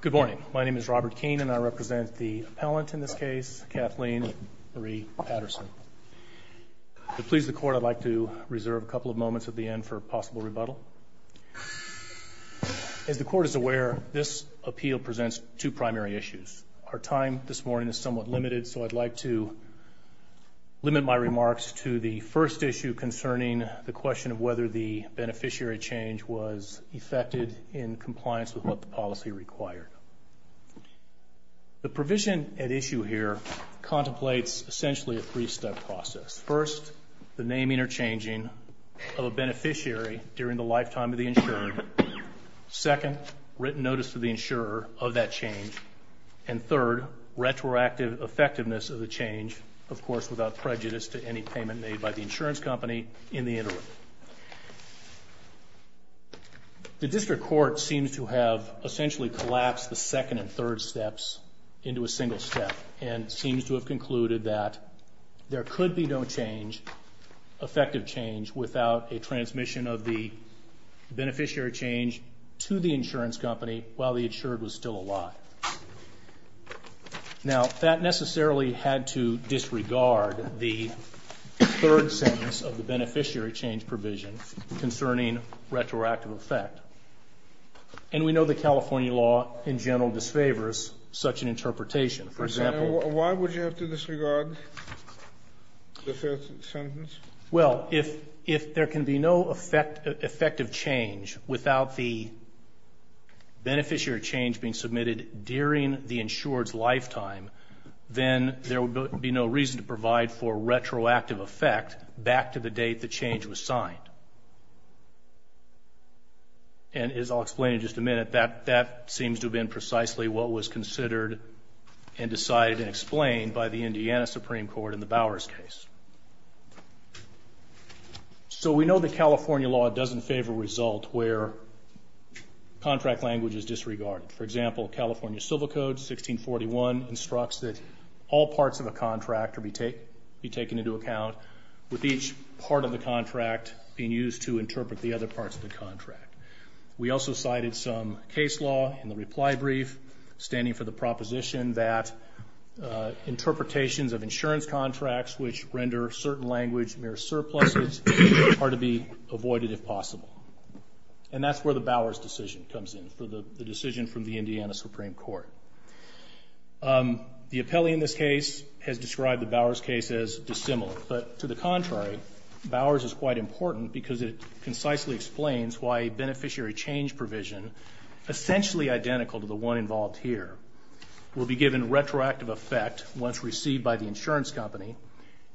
Good morning. My name is Robert Keene, and I represent the appellant in this case, Kathleen Marie Paterson. To please the Court, I'd like to reserve a couple of moments at the end for possible rebuttal. As the Court is aware, this appeal presents two primary issues. Our time this morning is somewhat limited, so I'd like to limit my remarks to the first issue concerning the question of whether the beneficiary change was effected in compliance with what the policy required. The provision at issue here contemplates essentially a three-step process. First, the naming or changing of a beneficiary during the lifetime of the insured. Second, written notice to the insurer of that change. And third, retroactive effectiveness of the change, of course, without prejudice to any payment made by the insurance company in the interim. The District Court seems to have essentially collapsed the second and third steps into a single step, and seems to have concluded that there could be no change, effective change, without a transmission of the beneficiary change to the insurance company while the insured was still alive. Now, that necessarily had to disregard the third sentence of the beneficiary change provision concerning retroactive effect. And we know the California law, in general, disfavors such an interpretation. For example... Why would you have to disregard the third sentence? Well, if there can be no effective change without the beneficiary change being submitted during the insured's lifetime, then there would be no reason to provide for retroactive effect back to the date the change was signed. And as I'll explain in just a minute, that seems to have been precisely what was considered and decided and explained by the Indiana Supreme Court in the Bowers case. So we know that California law doesn't favor a result where contract language is disregarded. For example, California Civil Code 1641 instructs that all parts of a contract be taken into account, with each part of the contract being used to interpret the other parts of the contract. We also cited some case law in the reply brief, standing for the proposition that interpretations of insurance contracts which render certain language mere surpluses are to be avoided if possible. And that's where the Bowers decision comes in, for the decision from the Indiana Supreme Court. The appellee in this case has described the Bowers case as dissimilar, but to the contrary, Bowers is quite important because it concisely explains why a beneficiary change provision, essentially identical to the one involved here, will be given retroactive effect once received by the insurance company,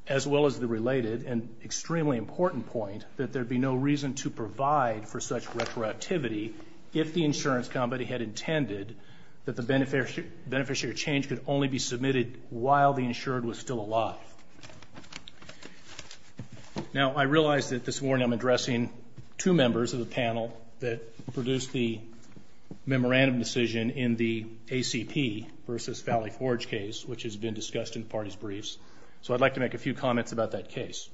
as well as the related and extremely important point that there'd be no reason to provide for such retroactivity if the insurance company had intended that the beneficiary change could only be submitted while the insured was still alive. Now I realize that this morning I'm addressing two members of the panel that produced the parties' briefs, so I'd like to make a few comments about that case.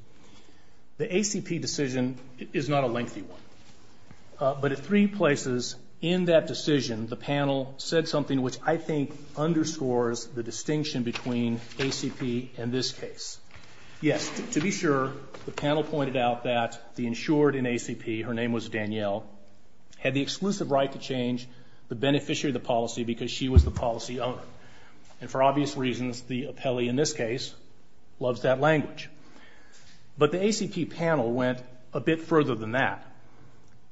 The ACP decision is not a lengthy one. But at three places in that decision, the panel said something which I think underscores the distinction between ACP and this case. Yes, to be sure, the panel pointed out that the insured in ACP, her name was Danielle, had the exclusive right to change the beneficiary of the policy because she was the policy owner. And for obvious reasons, the appellee in this case loves that language. But the ACP panel went a bit further than that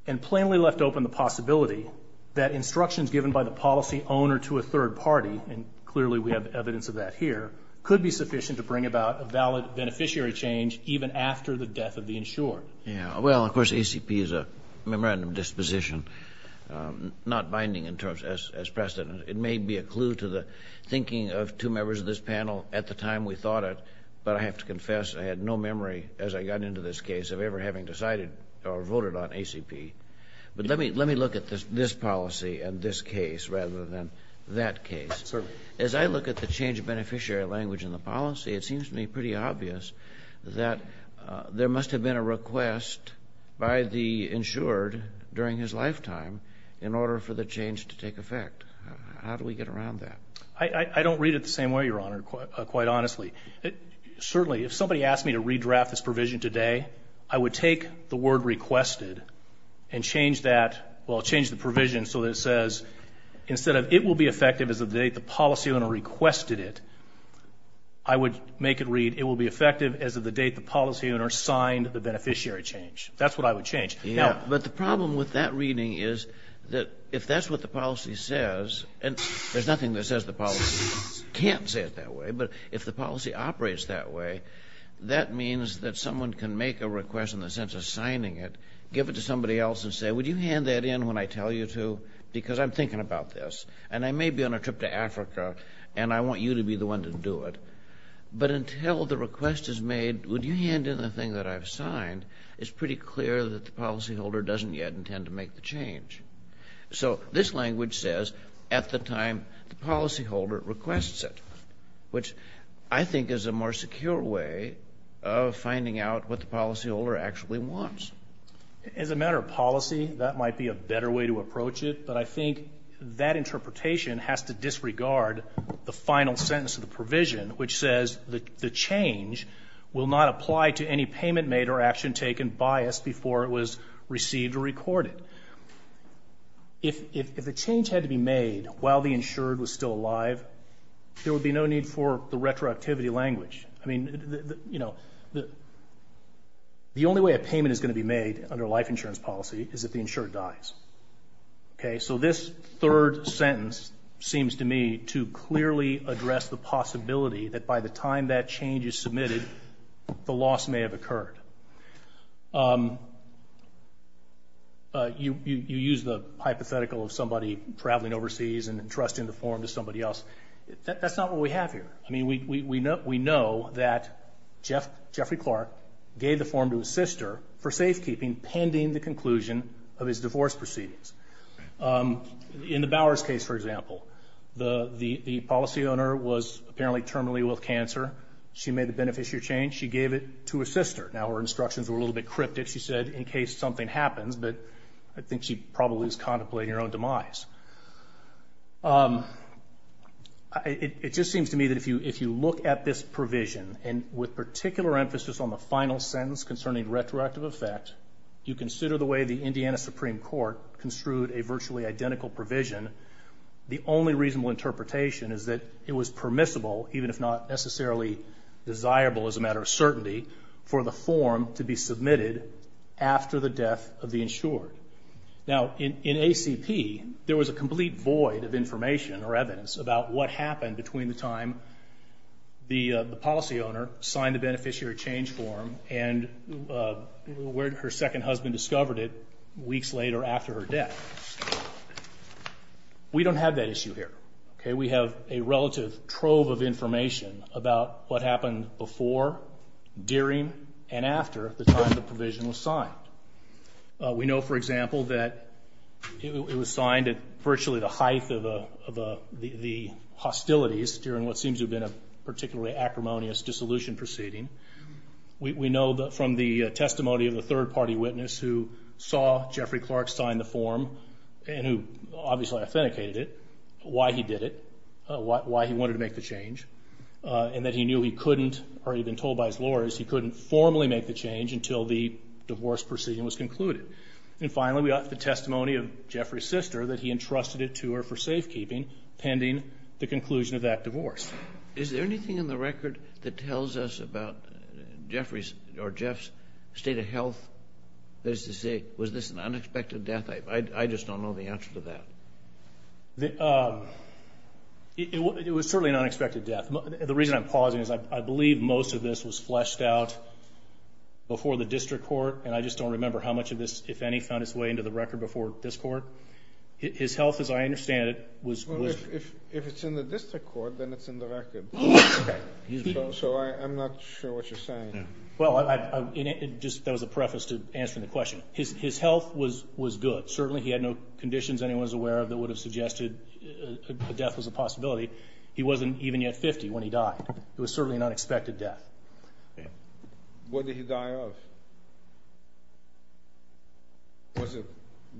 and plainly left open the possibility that instructions given by the policy owner to a third party, and clearly we have evidence of that here, could be sufficient to bring about a valid beneficiary change even after the death of the insured. Yeah. Well, of course, ACP is a memorandum of disposition, not binding in terms as precedent. It may be a clue to the thinking of two members of this panel at the time we thought it, but I have to confess I had no memory as I got into this case of ever having decided or voted on ACP. But let me look at this policy and this case rather than that case. Certainly. As I look at the change of beneficiary language in the policy, it seems to me pretty obvious that there must have been a request by the insured during his lifetime in order for the change to take effect. How do we get around that? I don't read it the same way, Your Honor, quite honestly. Certainly, if somebody asked me to redraft this provision today, I would take the word requested and change that, well, change the provision so that it says instead of it will be effective as of the date the policy owner requested it, I would make it read it will be effective as of the date the policy owner signed the beneficiary change. That's what I would change. But the problem with that reading is that if that's what the policy says, and there's nothing that says the policy can't say it that way, but if the policy operates that way, that means that someone can make a request in the sense of signing it, give it to somebody else and say, would you hand that in when I tell you to because I'm thinking about this and I may be on a trip to Africa and I want you to be the one to do it. But until the request is made, would you hand in the thing that I've signed, it's pretty clear that the policyholder doesn't yet intend to make the change. So this language says at the time the policyholder requests it, which I think is a more secure way of finding out what the policyholder actually wants. As a matter of policy, that might be a better way to approach it, but I think that interpretation has to disregard the final sentence of the provision, which says that the change will not apply to any payment made or action taken by us before it was received or recorded. If the change had to be made while the insured was still alive, there would be no need for the retroactivity language. I mean, you know, the only way a payment is going to be made under life insurance policy is if the insured dies. Okay? So this third sentence seems to me to clearly address the possibility that by the time that change is submitted, the loss may have occurred. You use the hypothetical of somebody traveling overseas and entrusting the form to somebody else. That's not what we have here. I mean, we know that Jeffrey Clark gave the form to his sister for safekeeping pending the conclusion of his divorce proceedings. In the Bowers case, for example, the policyowner was apparently terminally ill with cancer. She made the beneficiary change. She gave it to her sister. Now, her instructions were a little bit cryptic. She said, in case something happens, but I think she probably was contemplating her own demise. It just seems to me that if you look at this provision, and with particular emphasis on the final sentence concerning retroactive effect, you consider the way the Indiana Supreme Court construed a virtually identical provision, the only reasonable interpretation is that it was permissible, even if not necessarily desirable as a matter of certainty, for the form to be submitted after the death of the insured. Now, in ACP, there was a complete void of information or evidence about what happened between the time the policyowner signed the beneficiary change form and where her second husband discovered it weeks later after her death. We don't have that issue here. We have a relative trove of information about what happened before, during, and after the time the provision was signed. We know, for example, that it was signed at virtually the height of the hostilities during what seems to have been a particularly acrimonious dissolution proceeding. We know from the testimony of the third-party witness who saw Jeffrey Clark sign the form, and who obviously authenticated it, why he did it, why he wanted to make the change, and that he knew he couldn't, or he'd been told by his lawyers, he couldn't formally make the change until the divorce proceeding was concluded. And finally, we have the testimony of Jeffrey's sister that he entrusted it to her for safekeeping pending the conclusion of that divorce. Is there anything in the record that tells us about Jeffrey's, or Jeff's, state of health? That is to say, was this an unexpected death? I just don't know the answer to that. It was certainly an unexpected death. The reason I'm pausing is I believe most of this was fleshed out before the district court, and I just don't remember how much of this, if any, found its way into the record before this court. His health, as I understand it, was... If it's in the district court, then it's in the record. So I'm not sure what you're saying. Well, that was a preface to answering the question. His health was good. Certainly he had no conditions anyone's aware of that would have suggested a death was a possibility. He wasn't even yet 50 when he died. It was certainly an unexpected death. What did he die of? Was it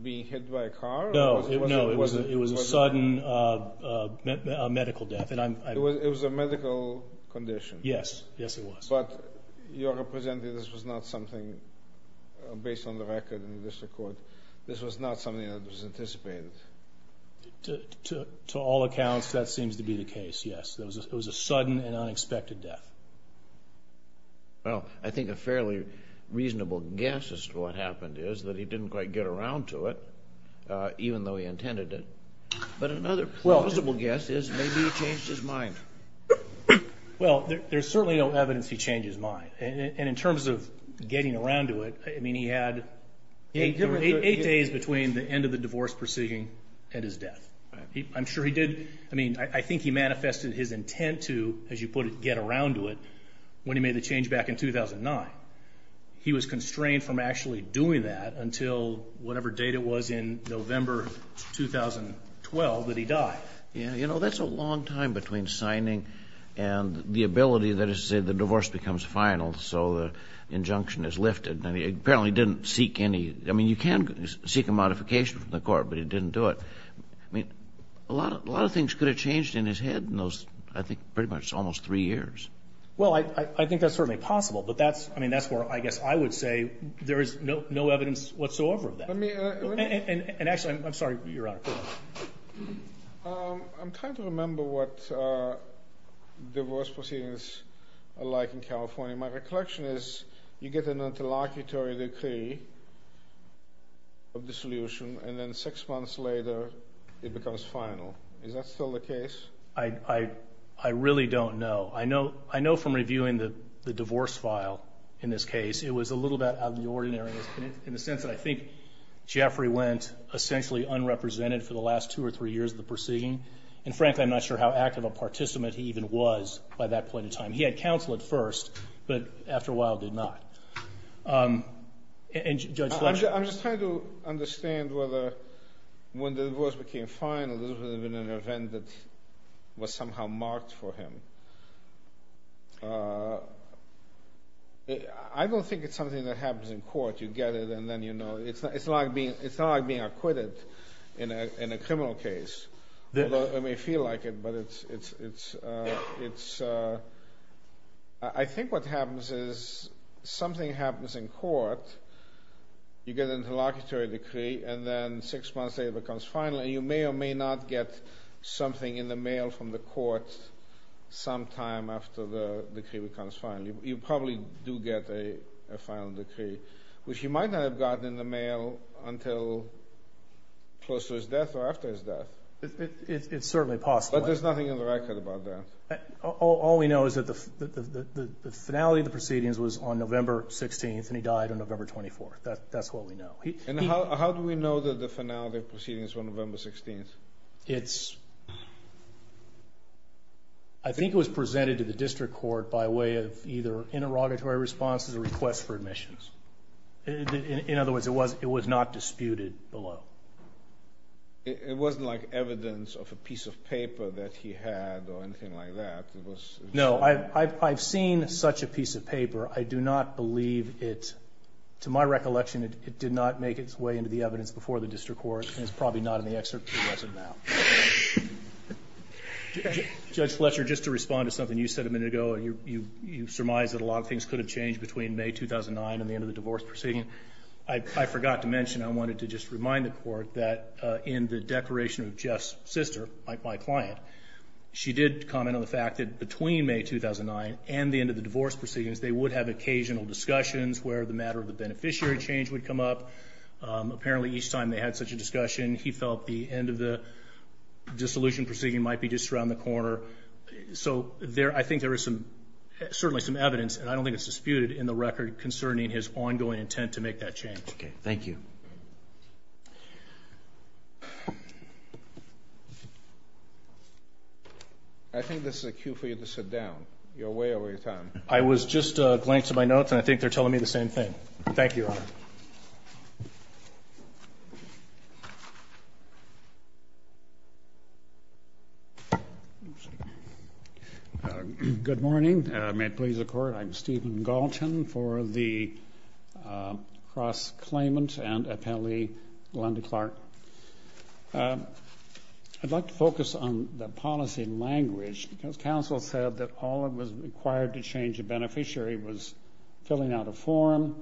being hit by a car? No, it was a sudden medical death. It was a medical condition? Yes, yes it was. But you're representing this was not something, based on the record in the district court, this was not something that was anticipated? To all accounts, that seems to be the case, yes. It was a sudden and unexpected death. Well, I think a fairly reasonable guess as to what happened is that he didn't quite get around to it, even though he intended it. But another plausible guess is maybe he changed his mind. Well, there's certainly no evidence he changed his mind. And in terms of getting around to it, I mean, he had eight days between the end of the divorce proceeding and his death. I'm sure he did... I mean, I think he manifested his intent to, as you put it, get around to it, when he made the change back in 2009. He was constrained from actually doing that until whatever date it was in November 2012 that he died. Yeah, you know, that's a long time between signing and the ability that, as you say, the divorce becomes final, so the injunction is lifted. Apparently he didn't seek any... I mean, you can seek a modification from the court, but he didn't do it. I mean, a lot of things could have changed in his head in those, I think, pretty much almost three years. Well, I think that's certainly possible, but that's, I mean, that's where I guess I would say there is no evidence whatsoever of that. And actually, I'm sorry, Your Honor. I'm trying to remember what divorce proceedings are like in California. My recollection is you get an interlocutory decree of dissolution, and then six months later it becomes final. Is that still the case? I really don't know. I know from reviewing the divorce file in this case, it was a little bit out of the ordinary in the sense that I think Jeffrey went essentially unrepresented for the last two or three years of the proceeding. And frankly, I'm not sure how active a participant he even was by that point in time. He had counsel at first, but after a while did not. And Judge Fleming? I'm just trying to understand whether when the divorce became final, this would have been an event that was somehow marked for him. I don't think it's something that happens in court. You get it, and then you know. It's not like being acquitted in a criminal case. I may feel like it, but I think what happens is something happens in court. You get an interlocutory decree, and then six months later it becomes final, and you may or may not get something in the mail from the court sometime after the decree becomes final. You probably do get a final decree, which you might not have gotten in the mail until close to his death or after his death. It's certainly possible. But there's nothing in the record about that. All we know is that the finality of the proceedings was on November 16th, and he died on November 24th. That's what we know. And how do we know that the finality of the proceedings was on November 16th? I think it was presented to the district court by way of either interrogatory responses or requests for admissions. In other words, it was not disputed below. It wasn't like evidence of a piece of paper that he had or anything like that. No. I've seen such a piece of paper. I do not believe it. To my recollection, it did not make its way into the evidence before the district court, and it's probably not in the excerpt. It wasn't now. Judge Fletcher, just to respond to something you said a minute ago, you surmised that a lot of things could have changed between May 2009 and the end of the divorce proceeding. I forgot to mention I wanted to just remind the court that in the declaration of Jeff's sister, my client, she did comment on the fact that between May 2009 and the end of the divorce proceedings, they would have occasional discussions where the matter of the beneficiary change would come up. Apparently, each time they had such a discussion, he felt the end of the dissolution proceeding might be just around the corner. So I think there is certainly some evidence, and I don't think it's disputed in the record concerning his ongoing intent to make that change. Okay. Thank you. I think this is a cue for you to sit down. You're way over your time. I was just glancing at my notes, and I think they're telling me the same thing. Thank you, Your Honor. Thank you. Good morning. May it please the Court, I'm Stephen Galton for the cross-claimant and appellee, Glenda Clark. I'd like to focus on the policy language because counsel said that all that was required to change the beneficiary was filling out a form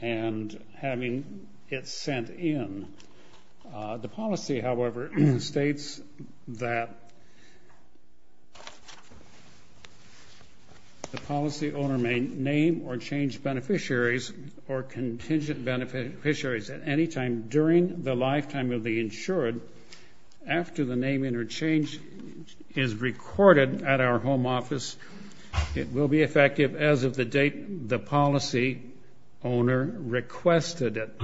and having it sent in. The policy, however, states that the policy owner may name or change beneficiaries or contingent beneficiaries at any time during the lifetime of the insured after the name interchange is recorded at our home office. It will be effective as of the date the policy owner requested it.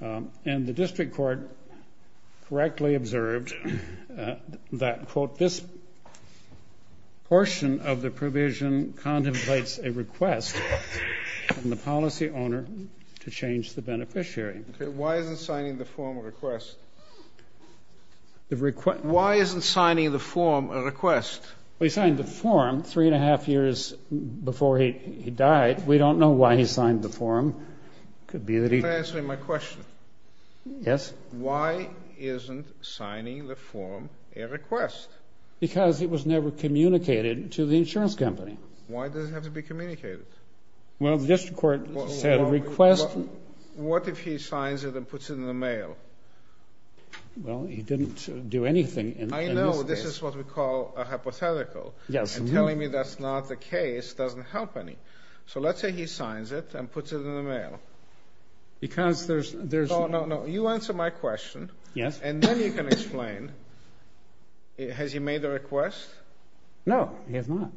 And the district court correctly observed that, quote, this portion of the provision contemplates a request from the policy owner to change the beneficiary. Okay. Why isn't signing the form a request? Why isn't signing the form a request? Well, he signed the form three and a half years before he died. We don't know why he signed the form. It could be that he- You're not answering my question. Yes? Why isn't signing the form a request? Because it was never communicated to the insurance company. Why does it have to be communicated? Well, the district court said a request- What if he signs it and puts it in the mail? Well, he didn't do anything in this case. This is what we call a hypothetical. Yes. And telling me that's not the case doesn't help any. So let's say he signs it and puts it in the mail. Because there's- No, no, no. You answer my question. Yes. And then you can explain. Has he made a request? No, he has not.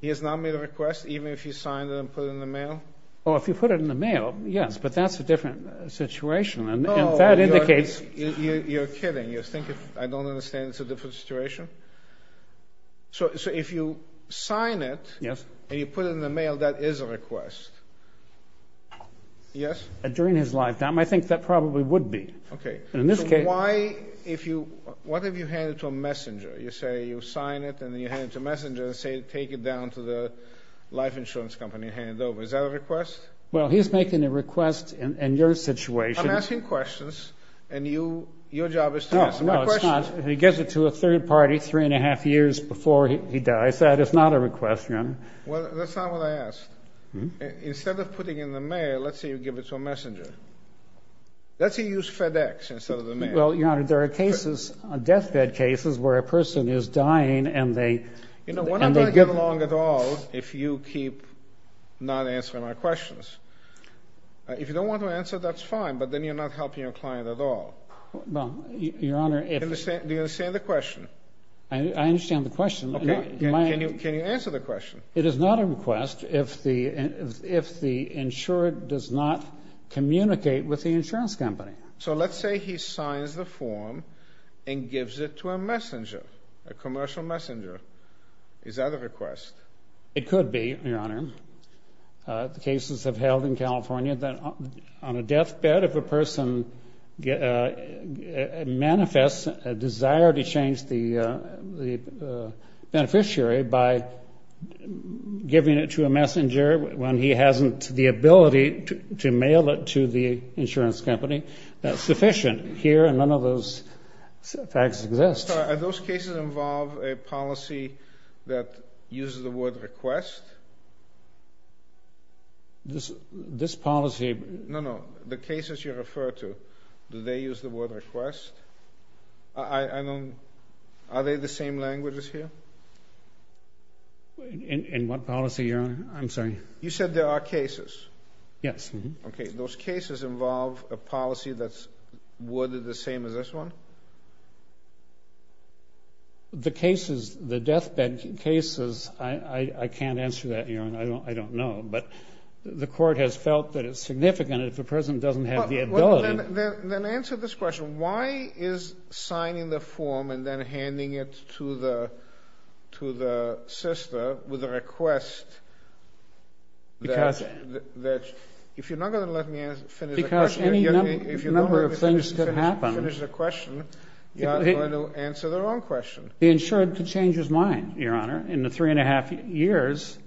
He has not made a request, even if he signed it and put it in the mail? Well, if you put it in the mail, yes. But that's a different situation. No. And that indicates- You're kidding. You think I don't understand it's a different situation? So if you sign it- Yes. And you put it in the mail, that is a request. Yes? During his lifetime, I think that probably would be. Okay. In this case- So why if you- What if you hand it to a messenger? You say you sign it and then you hand it to a messenger and say take it down to the life insurance company and hand it over. Is that a request? Well, he's making a request in your situation. I'm asking questions and your job is to answer my questions. No, it's not. He gives it to a third party three and a half years before he dies. That is not a request, Your Honor. Well, that's not what I asked. Instead of putting it in the mail, let's say you give it to a messenger. Let's say you use FedEx instead of the mail. Well, Your Honor, there are cases, deathbed cases, where a person is dying and they- You know, what am I going to get along at all if you keep not answering my questions? If you don't want to answer, that's fine, but then you're not helping your client at all. Well, Your Honor, if- Do you understand the question? I understand the question. Can you answer the question? It is not a request if the insured does not communicate with the insurance company. So let's say he signs the form and gives it to a messenger, a commercial messenger. Is that a request? It could be, Your Honor. The cases have held in California that on a deathbed, if a person manifests a desire to change the beneficiary by giving it to a messenger when he hasn't the ability to mail it to the insurance company, that's sufficient. Here, none of those facts exist. Are those cases involve a policy that uses the word request? This policy- No, no. The cases you refer to, do they use the word request? I don't- Are they the same languages here? In what policy, Your Honor? I'm sorry. You said there are cases. Yes. Okay. Those cases involve a policy that's worded the same as this one? The cases, the deathbed cases, I can't answer that, Your Honor. I don't know. But the court has felt that it's significant if the person doesn't have the ability- Then answer this question. Why is signing the form and then handing it to the sister with a request- Because- If you're not going to let me finish the question- Because any number of things could happen- If you don't let me finish the question, you're not going to answer the wrong question. The insured could change his mind, Your Honor. In the three and a half years,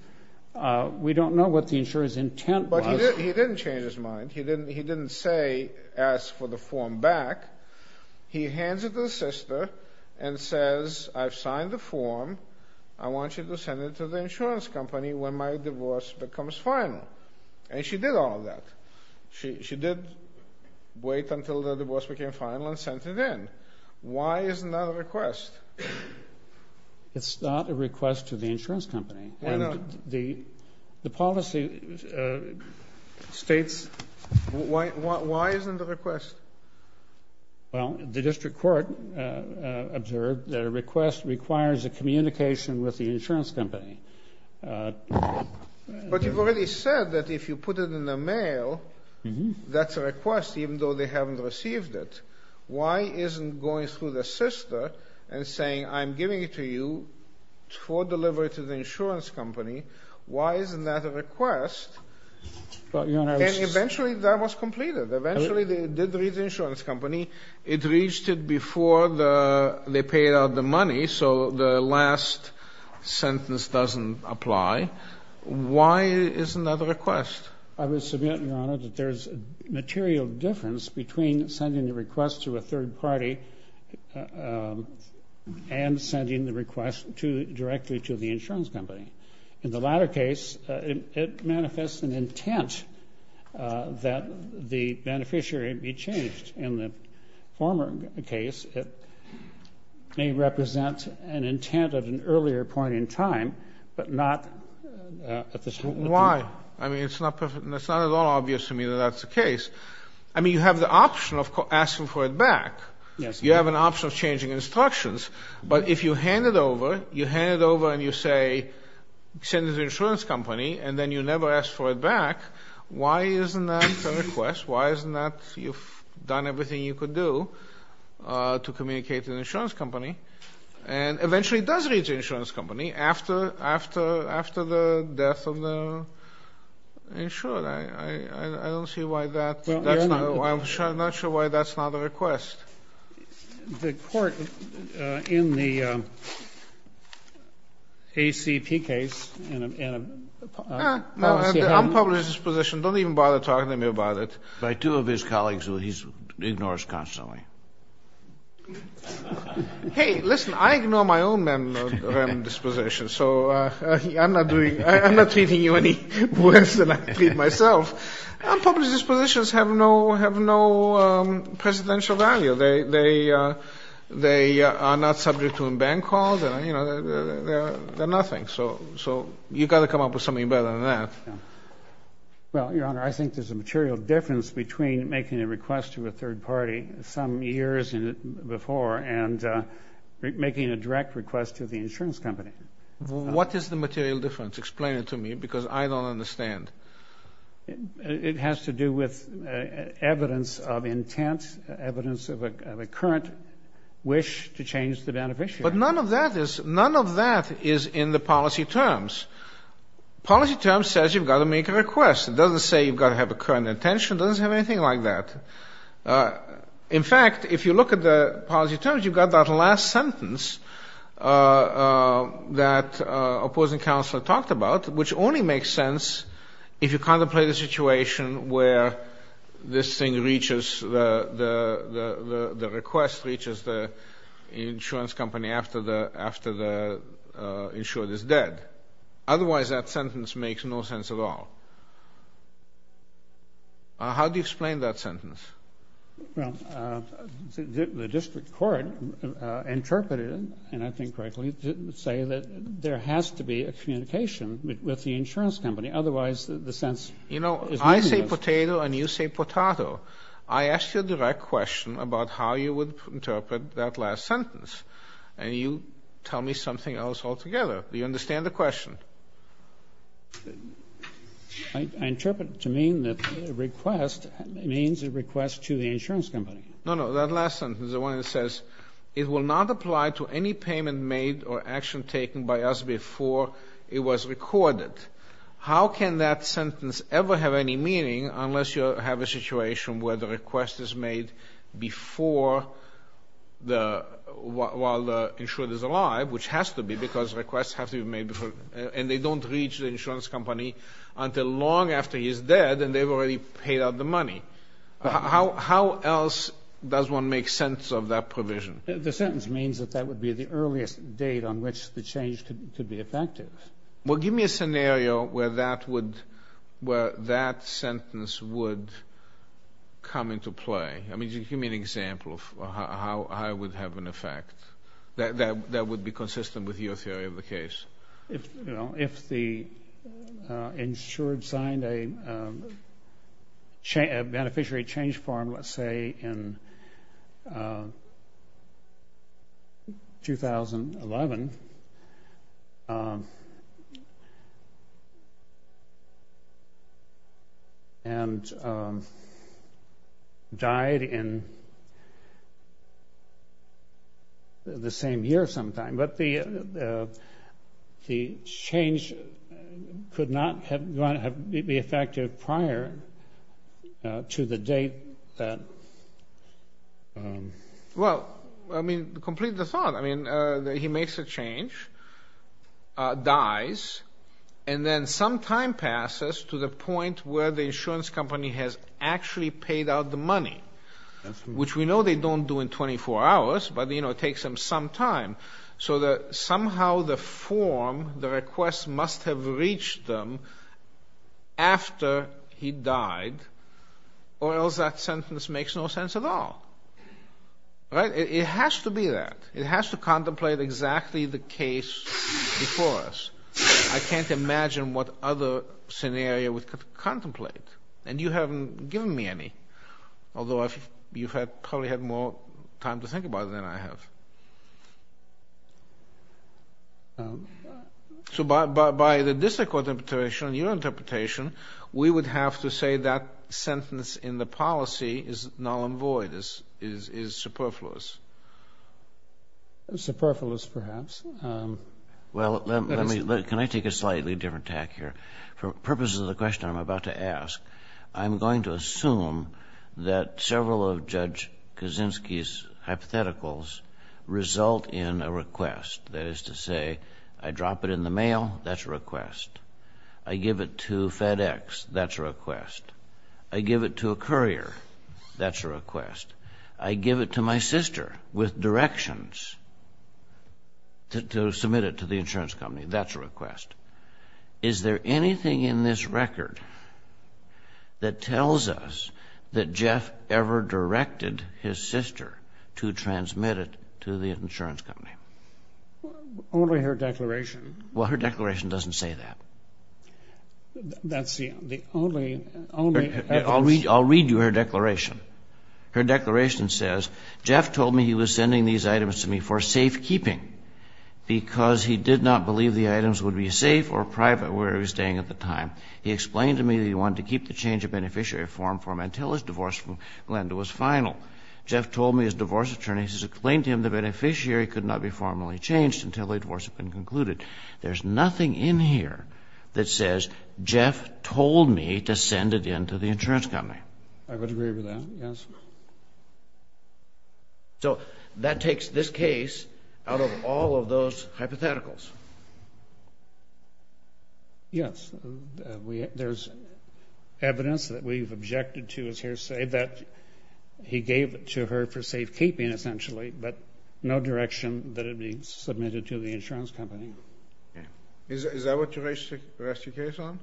we don't know what the insurer's intent was. But he didn't change his mind. He didn't say ask for the form back. He hands it to the sister and says, I've signed the form. I want you to send it to the insurance company when my divorce becomes final. And she did all of that. She did wait until the divorce became final and sent it in. Why is it not a request? It's not a request to the insurance company. Why not? The policy states- Why isn't it a request? Well, the district court observed that a request requires a communication with the insurance company. But you've already said that if you put it in the mail, that's a request, even though they haven't received it. Why isn't going through the sister and saying, I'm giving it to you for delivery to the insurance company, why isn't that a request? Eventually, that was completed. Eventually, they did read the insurance company. It reached it before they paid out the money, so the last sentence doesn't apply. Why isn't that a request? I would submit, Your Honor, that there's a material difference between sending a request to a third party and sending the request directly to the insurance company. In the latter case, it manifests an intent that the beneficiary be changed. In the former case, it may represent an intent at an earlier point in time, but not at the- Why? I mean, it's not at all obvious to me that that's the case. I mean, you have the option of asking for it back. Yes. You have an option of changing instructions. But if you hand it over, you hand it over and you say, send it to the insurance company, and then you never ask for it back, why isn't that a request? Why isn't that you've done everything you could do to communicate to the insurance company? And eventually it does reach the insurance company after the death of the insured. I don't see why that's not a request. I'm not sure why that's not a request. The court in the ACP case- No, I'm public in this position. Don't even bother talking to me about it. By two of his colleagues who he ignores constantly. Hey, listen, I ignore my own disposition, so I'm not treating you any worse than I treat myself. Public dispositions have no presidential value. They are not subject to a ban called. They're nothing. So you've got to come up with something better than that. Well, Your Honor, I think there's a material difference between making a request to a third party some years before and making a direct request to the insurance company. What is the material difference? Explain it to me, because I don't understand. It has to do with evidence of intent, evidence of a current wish to change the beneficiary. But none of that is in the policy terms. Policy terms says you've got to make a request. It doesn't say you've got to have a current intention. It doesn't have anything like that. In fact, if you look at the policy terms, you've got that last sentence that opposing counsel talked about, which only makes sense if you contemplate a situation where this thing reaches the request, reaches the insurance company after the insured is dead. Otherwise, that sentence makes no sense at all. How do you explain that sentence? Well, the district court interpreted it, and I think correctly, to say that there has to be a communication with the insurance company. Otherwise, the sense is meaningless. You know, I say potato and you say potatoe. I asked you a direct question about how you would interpret that last sentence, and you tell me something else altogether. Do you understand the question? I interpret it to mean that the request means a request to the insurance company. No, no. That last sentence, the one that says, it will not apply to any payment made or action taken by us before it was recorded. How can that sentence ever have any meaning unless you have a situation where the request is made before the while the insured is alive, which has to be because requests have to be made before and they don't reach the insurance company until long after he's dead and they've already paid out the money. How else does one make sense of that provision? The sentence means that that would be the earliest date on which the change could be effective. Well, give me a scenario where that sentence would come into play. I mean, give me an example of how it would have an effect that would be consistent with your theory of the case. If the insured signed a beneficiary change form, let's say, in 2011 and died in the same year sometime, but the change could not be effective prior to the date. Well, I mean, complete the thought. I mean, he makes a change, dies, and then some time passes to the point where the insurance company has actually paid out the money, which we know they don't do in 24 hours, but, you know, it takes them some time. So that somehow the form, the request, must have reached them after he died, or else that sentence makes no sense at all. Right? It has to be that. It has to contemplate exactly the case before us. I can't imagine what other scenario we could contemplate. And you haven't given me any, although you've probably had more time to think about it than I have. So by the district court interpretation, your interpretation, we would have to say that sentence in the policy is null and void, is superfluous. Superfluous, perhaps. Well, let me, can I take a slightly different tack here? For purposes of the question I'm about to ask, I'm going to assume that several of Judge Kaczynski's hypotheticals result in a request. That is to say, I drop it in the mail, that's a request. I give it to FedEx, that's a request. I give it to a courier, that's a request. I give it to my sister with directions to submit it to the insurance company, that's a request. Is there anything in this record that tells us that Jeff ever directed his sister to transmit it to the insurance company? Only her declaration. Well, her declaration doesn't say that. That's the only, only... I'll read you her declaration. Her declaration says, Jeff told me he was sending these items to me for safekeeping because he did not believe the items would be safe or private where he was staying at the time. He explained to me that he wanted to keep the change of beneficiary form for him until his divorce from Glenda was final. Jeff told me his divorce attorney has explained to him the beneficiary could not be formally changed until the divorce had been concluded. There's nothing in here that says Jeff told me to send it in to the insurance company. I would agree with that, yes. So that takes this case out of all of those hypotheticals. Yes, there's evidence that we've objected to as hearsay that he gave to her for safekeeping, essentially, but no direction that it be submitted to the insurance company. Is that what you rest your case on?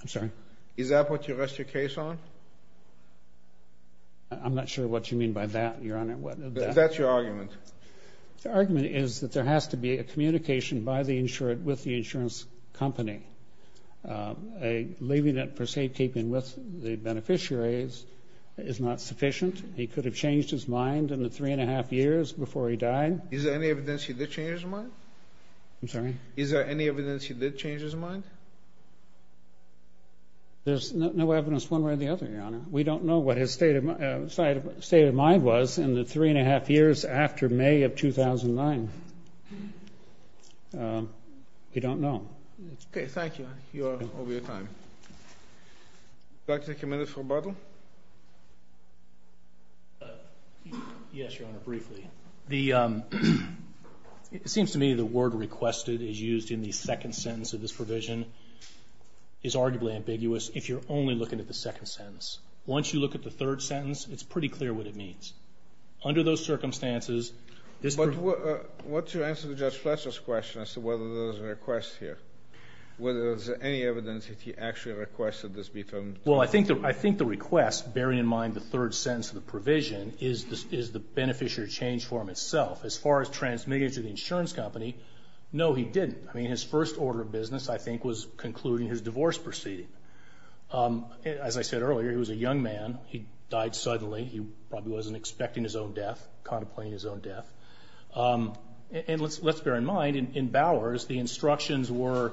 I'm sorry? Is that what you rest your case on? I'm not sure what you mean by that, Your Honor. That's your argument. The argument is that there has to be a communication with the insurance company. Leaving it for safekeeping with the beneficiaries is not sufficient. He could have changed his mind in the three and a half years before he died. Is there any evidence he did change his mind? I'm sorry? Is there any evidence he did change his mind? There's no evidence one way or the other, Your Honor. We don't know what his state of mind was in the three and a half years after May of 2009. We don't know. Okay, thank you. You're over your time. Would you like to take a minute for rebuttal? Yes, Your Honor, briefly. It seems to me the word requested is used in the second sentence of this provision is arguably ambiguous if you're only looking at the second sentence. Once you look at the third sentence, it's pretty clear what it means. Under those circumstances, this provision ---- But what's your answer to Judge Fletcher's question as to whether there was a request here, whether there was any evidence that he actually requested this be done? Well, I think the request, bearing in mind the third sentence of the provision, is the beneficiary change for him itself. As far as transmitting it to the insurance company, no, he didn't. I mean, his first order of business, I think, was concluding his divorce proceeding. As I said earlier, he was a young man. He died suddenly. He probably wasn't expecting his own death, contemplating his own death. And let's bear in mind, in Bowers, the instructions were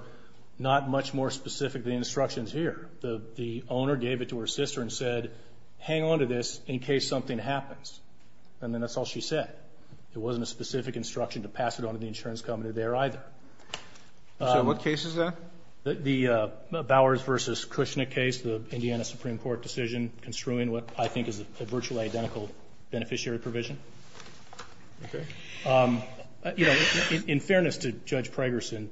not much more specific than the instructions here. The owner gave it to her sister and said, hang on to this in case something happens. And then that's all she said. It wasn't a specific instruction to pass it on to the insurance company there either. So what case is that? The Bowers v. Kushnick case, the Indiana Supreme Court decision construing what I think is a virtually identical beneficiary provision. Okay. You know, in fairness to Judge Pregerson,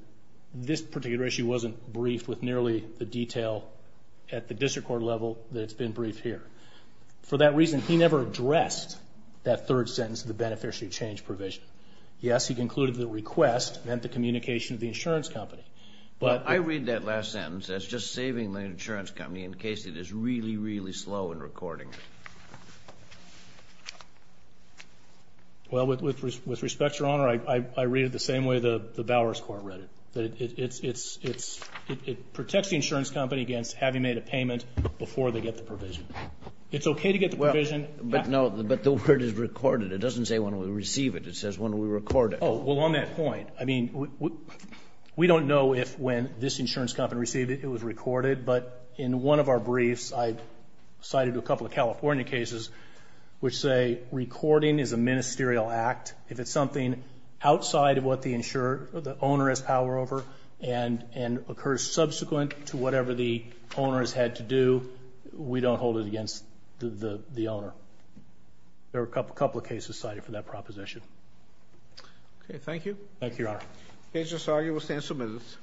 this particular issue wasn't briefed with nearly the detail at the district court level that it's been briefed here. For that reason, he never addressed that third sentence of the beneficiary change provision. Yes, he concluded the request meant the communication to the insurance company. Well, I read that last sentence as just saving the insurance company in case it is really, really slow in recording. Well, with respect, Your Honor, I read it the same way the Bowers court read it. It protects the insurance company against having made a payment before they get the provision. It's okay to get the provision. But no, but the word is recorded. It doesn't say when we receive it. It says when we record it. Oh, well, on that point, I mean, we don't know if when this insurance company received it, it was recorded. But in one of our briefs, I cited a couple of California cases which say recording is a ministerial act. If it's something outside of what the owner has power over and occurs subsequent to whatever the owner has had to do, we don't hold it against the owner. There are a couple of cases cited for that proposition. Okay, thank you. Thank you, Your Honor. Agent Sargio will stand some minutes.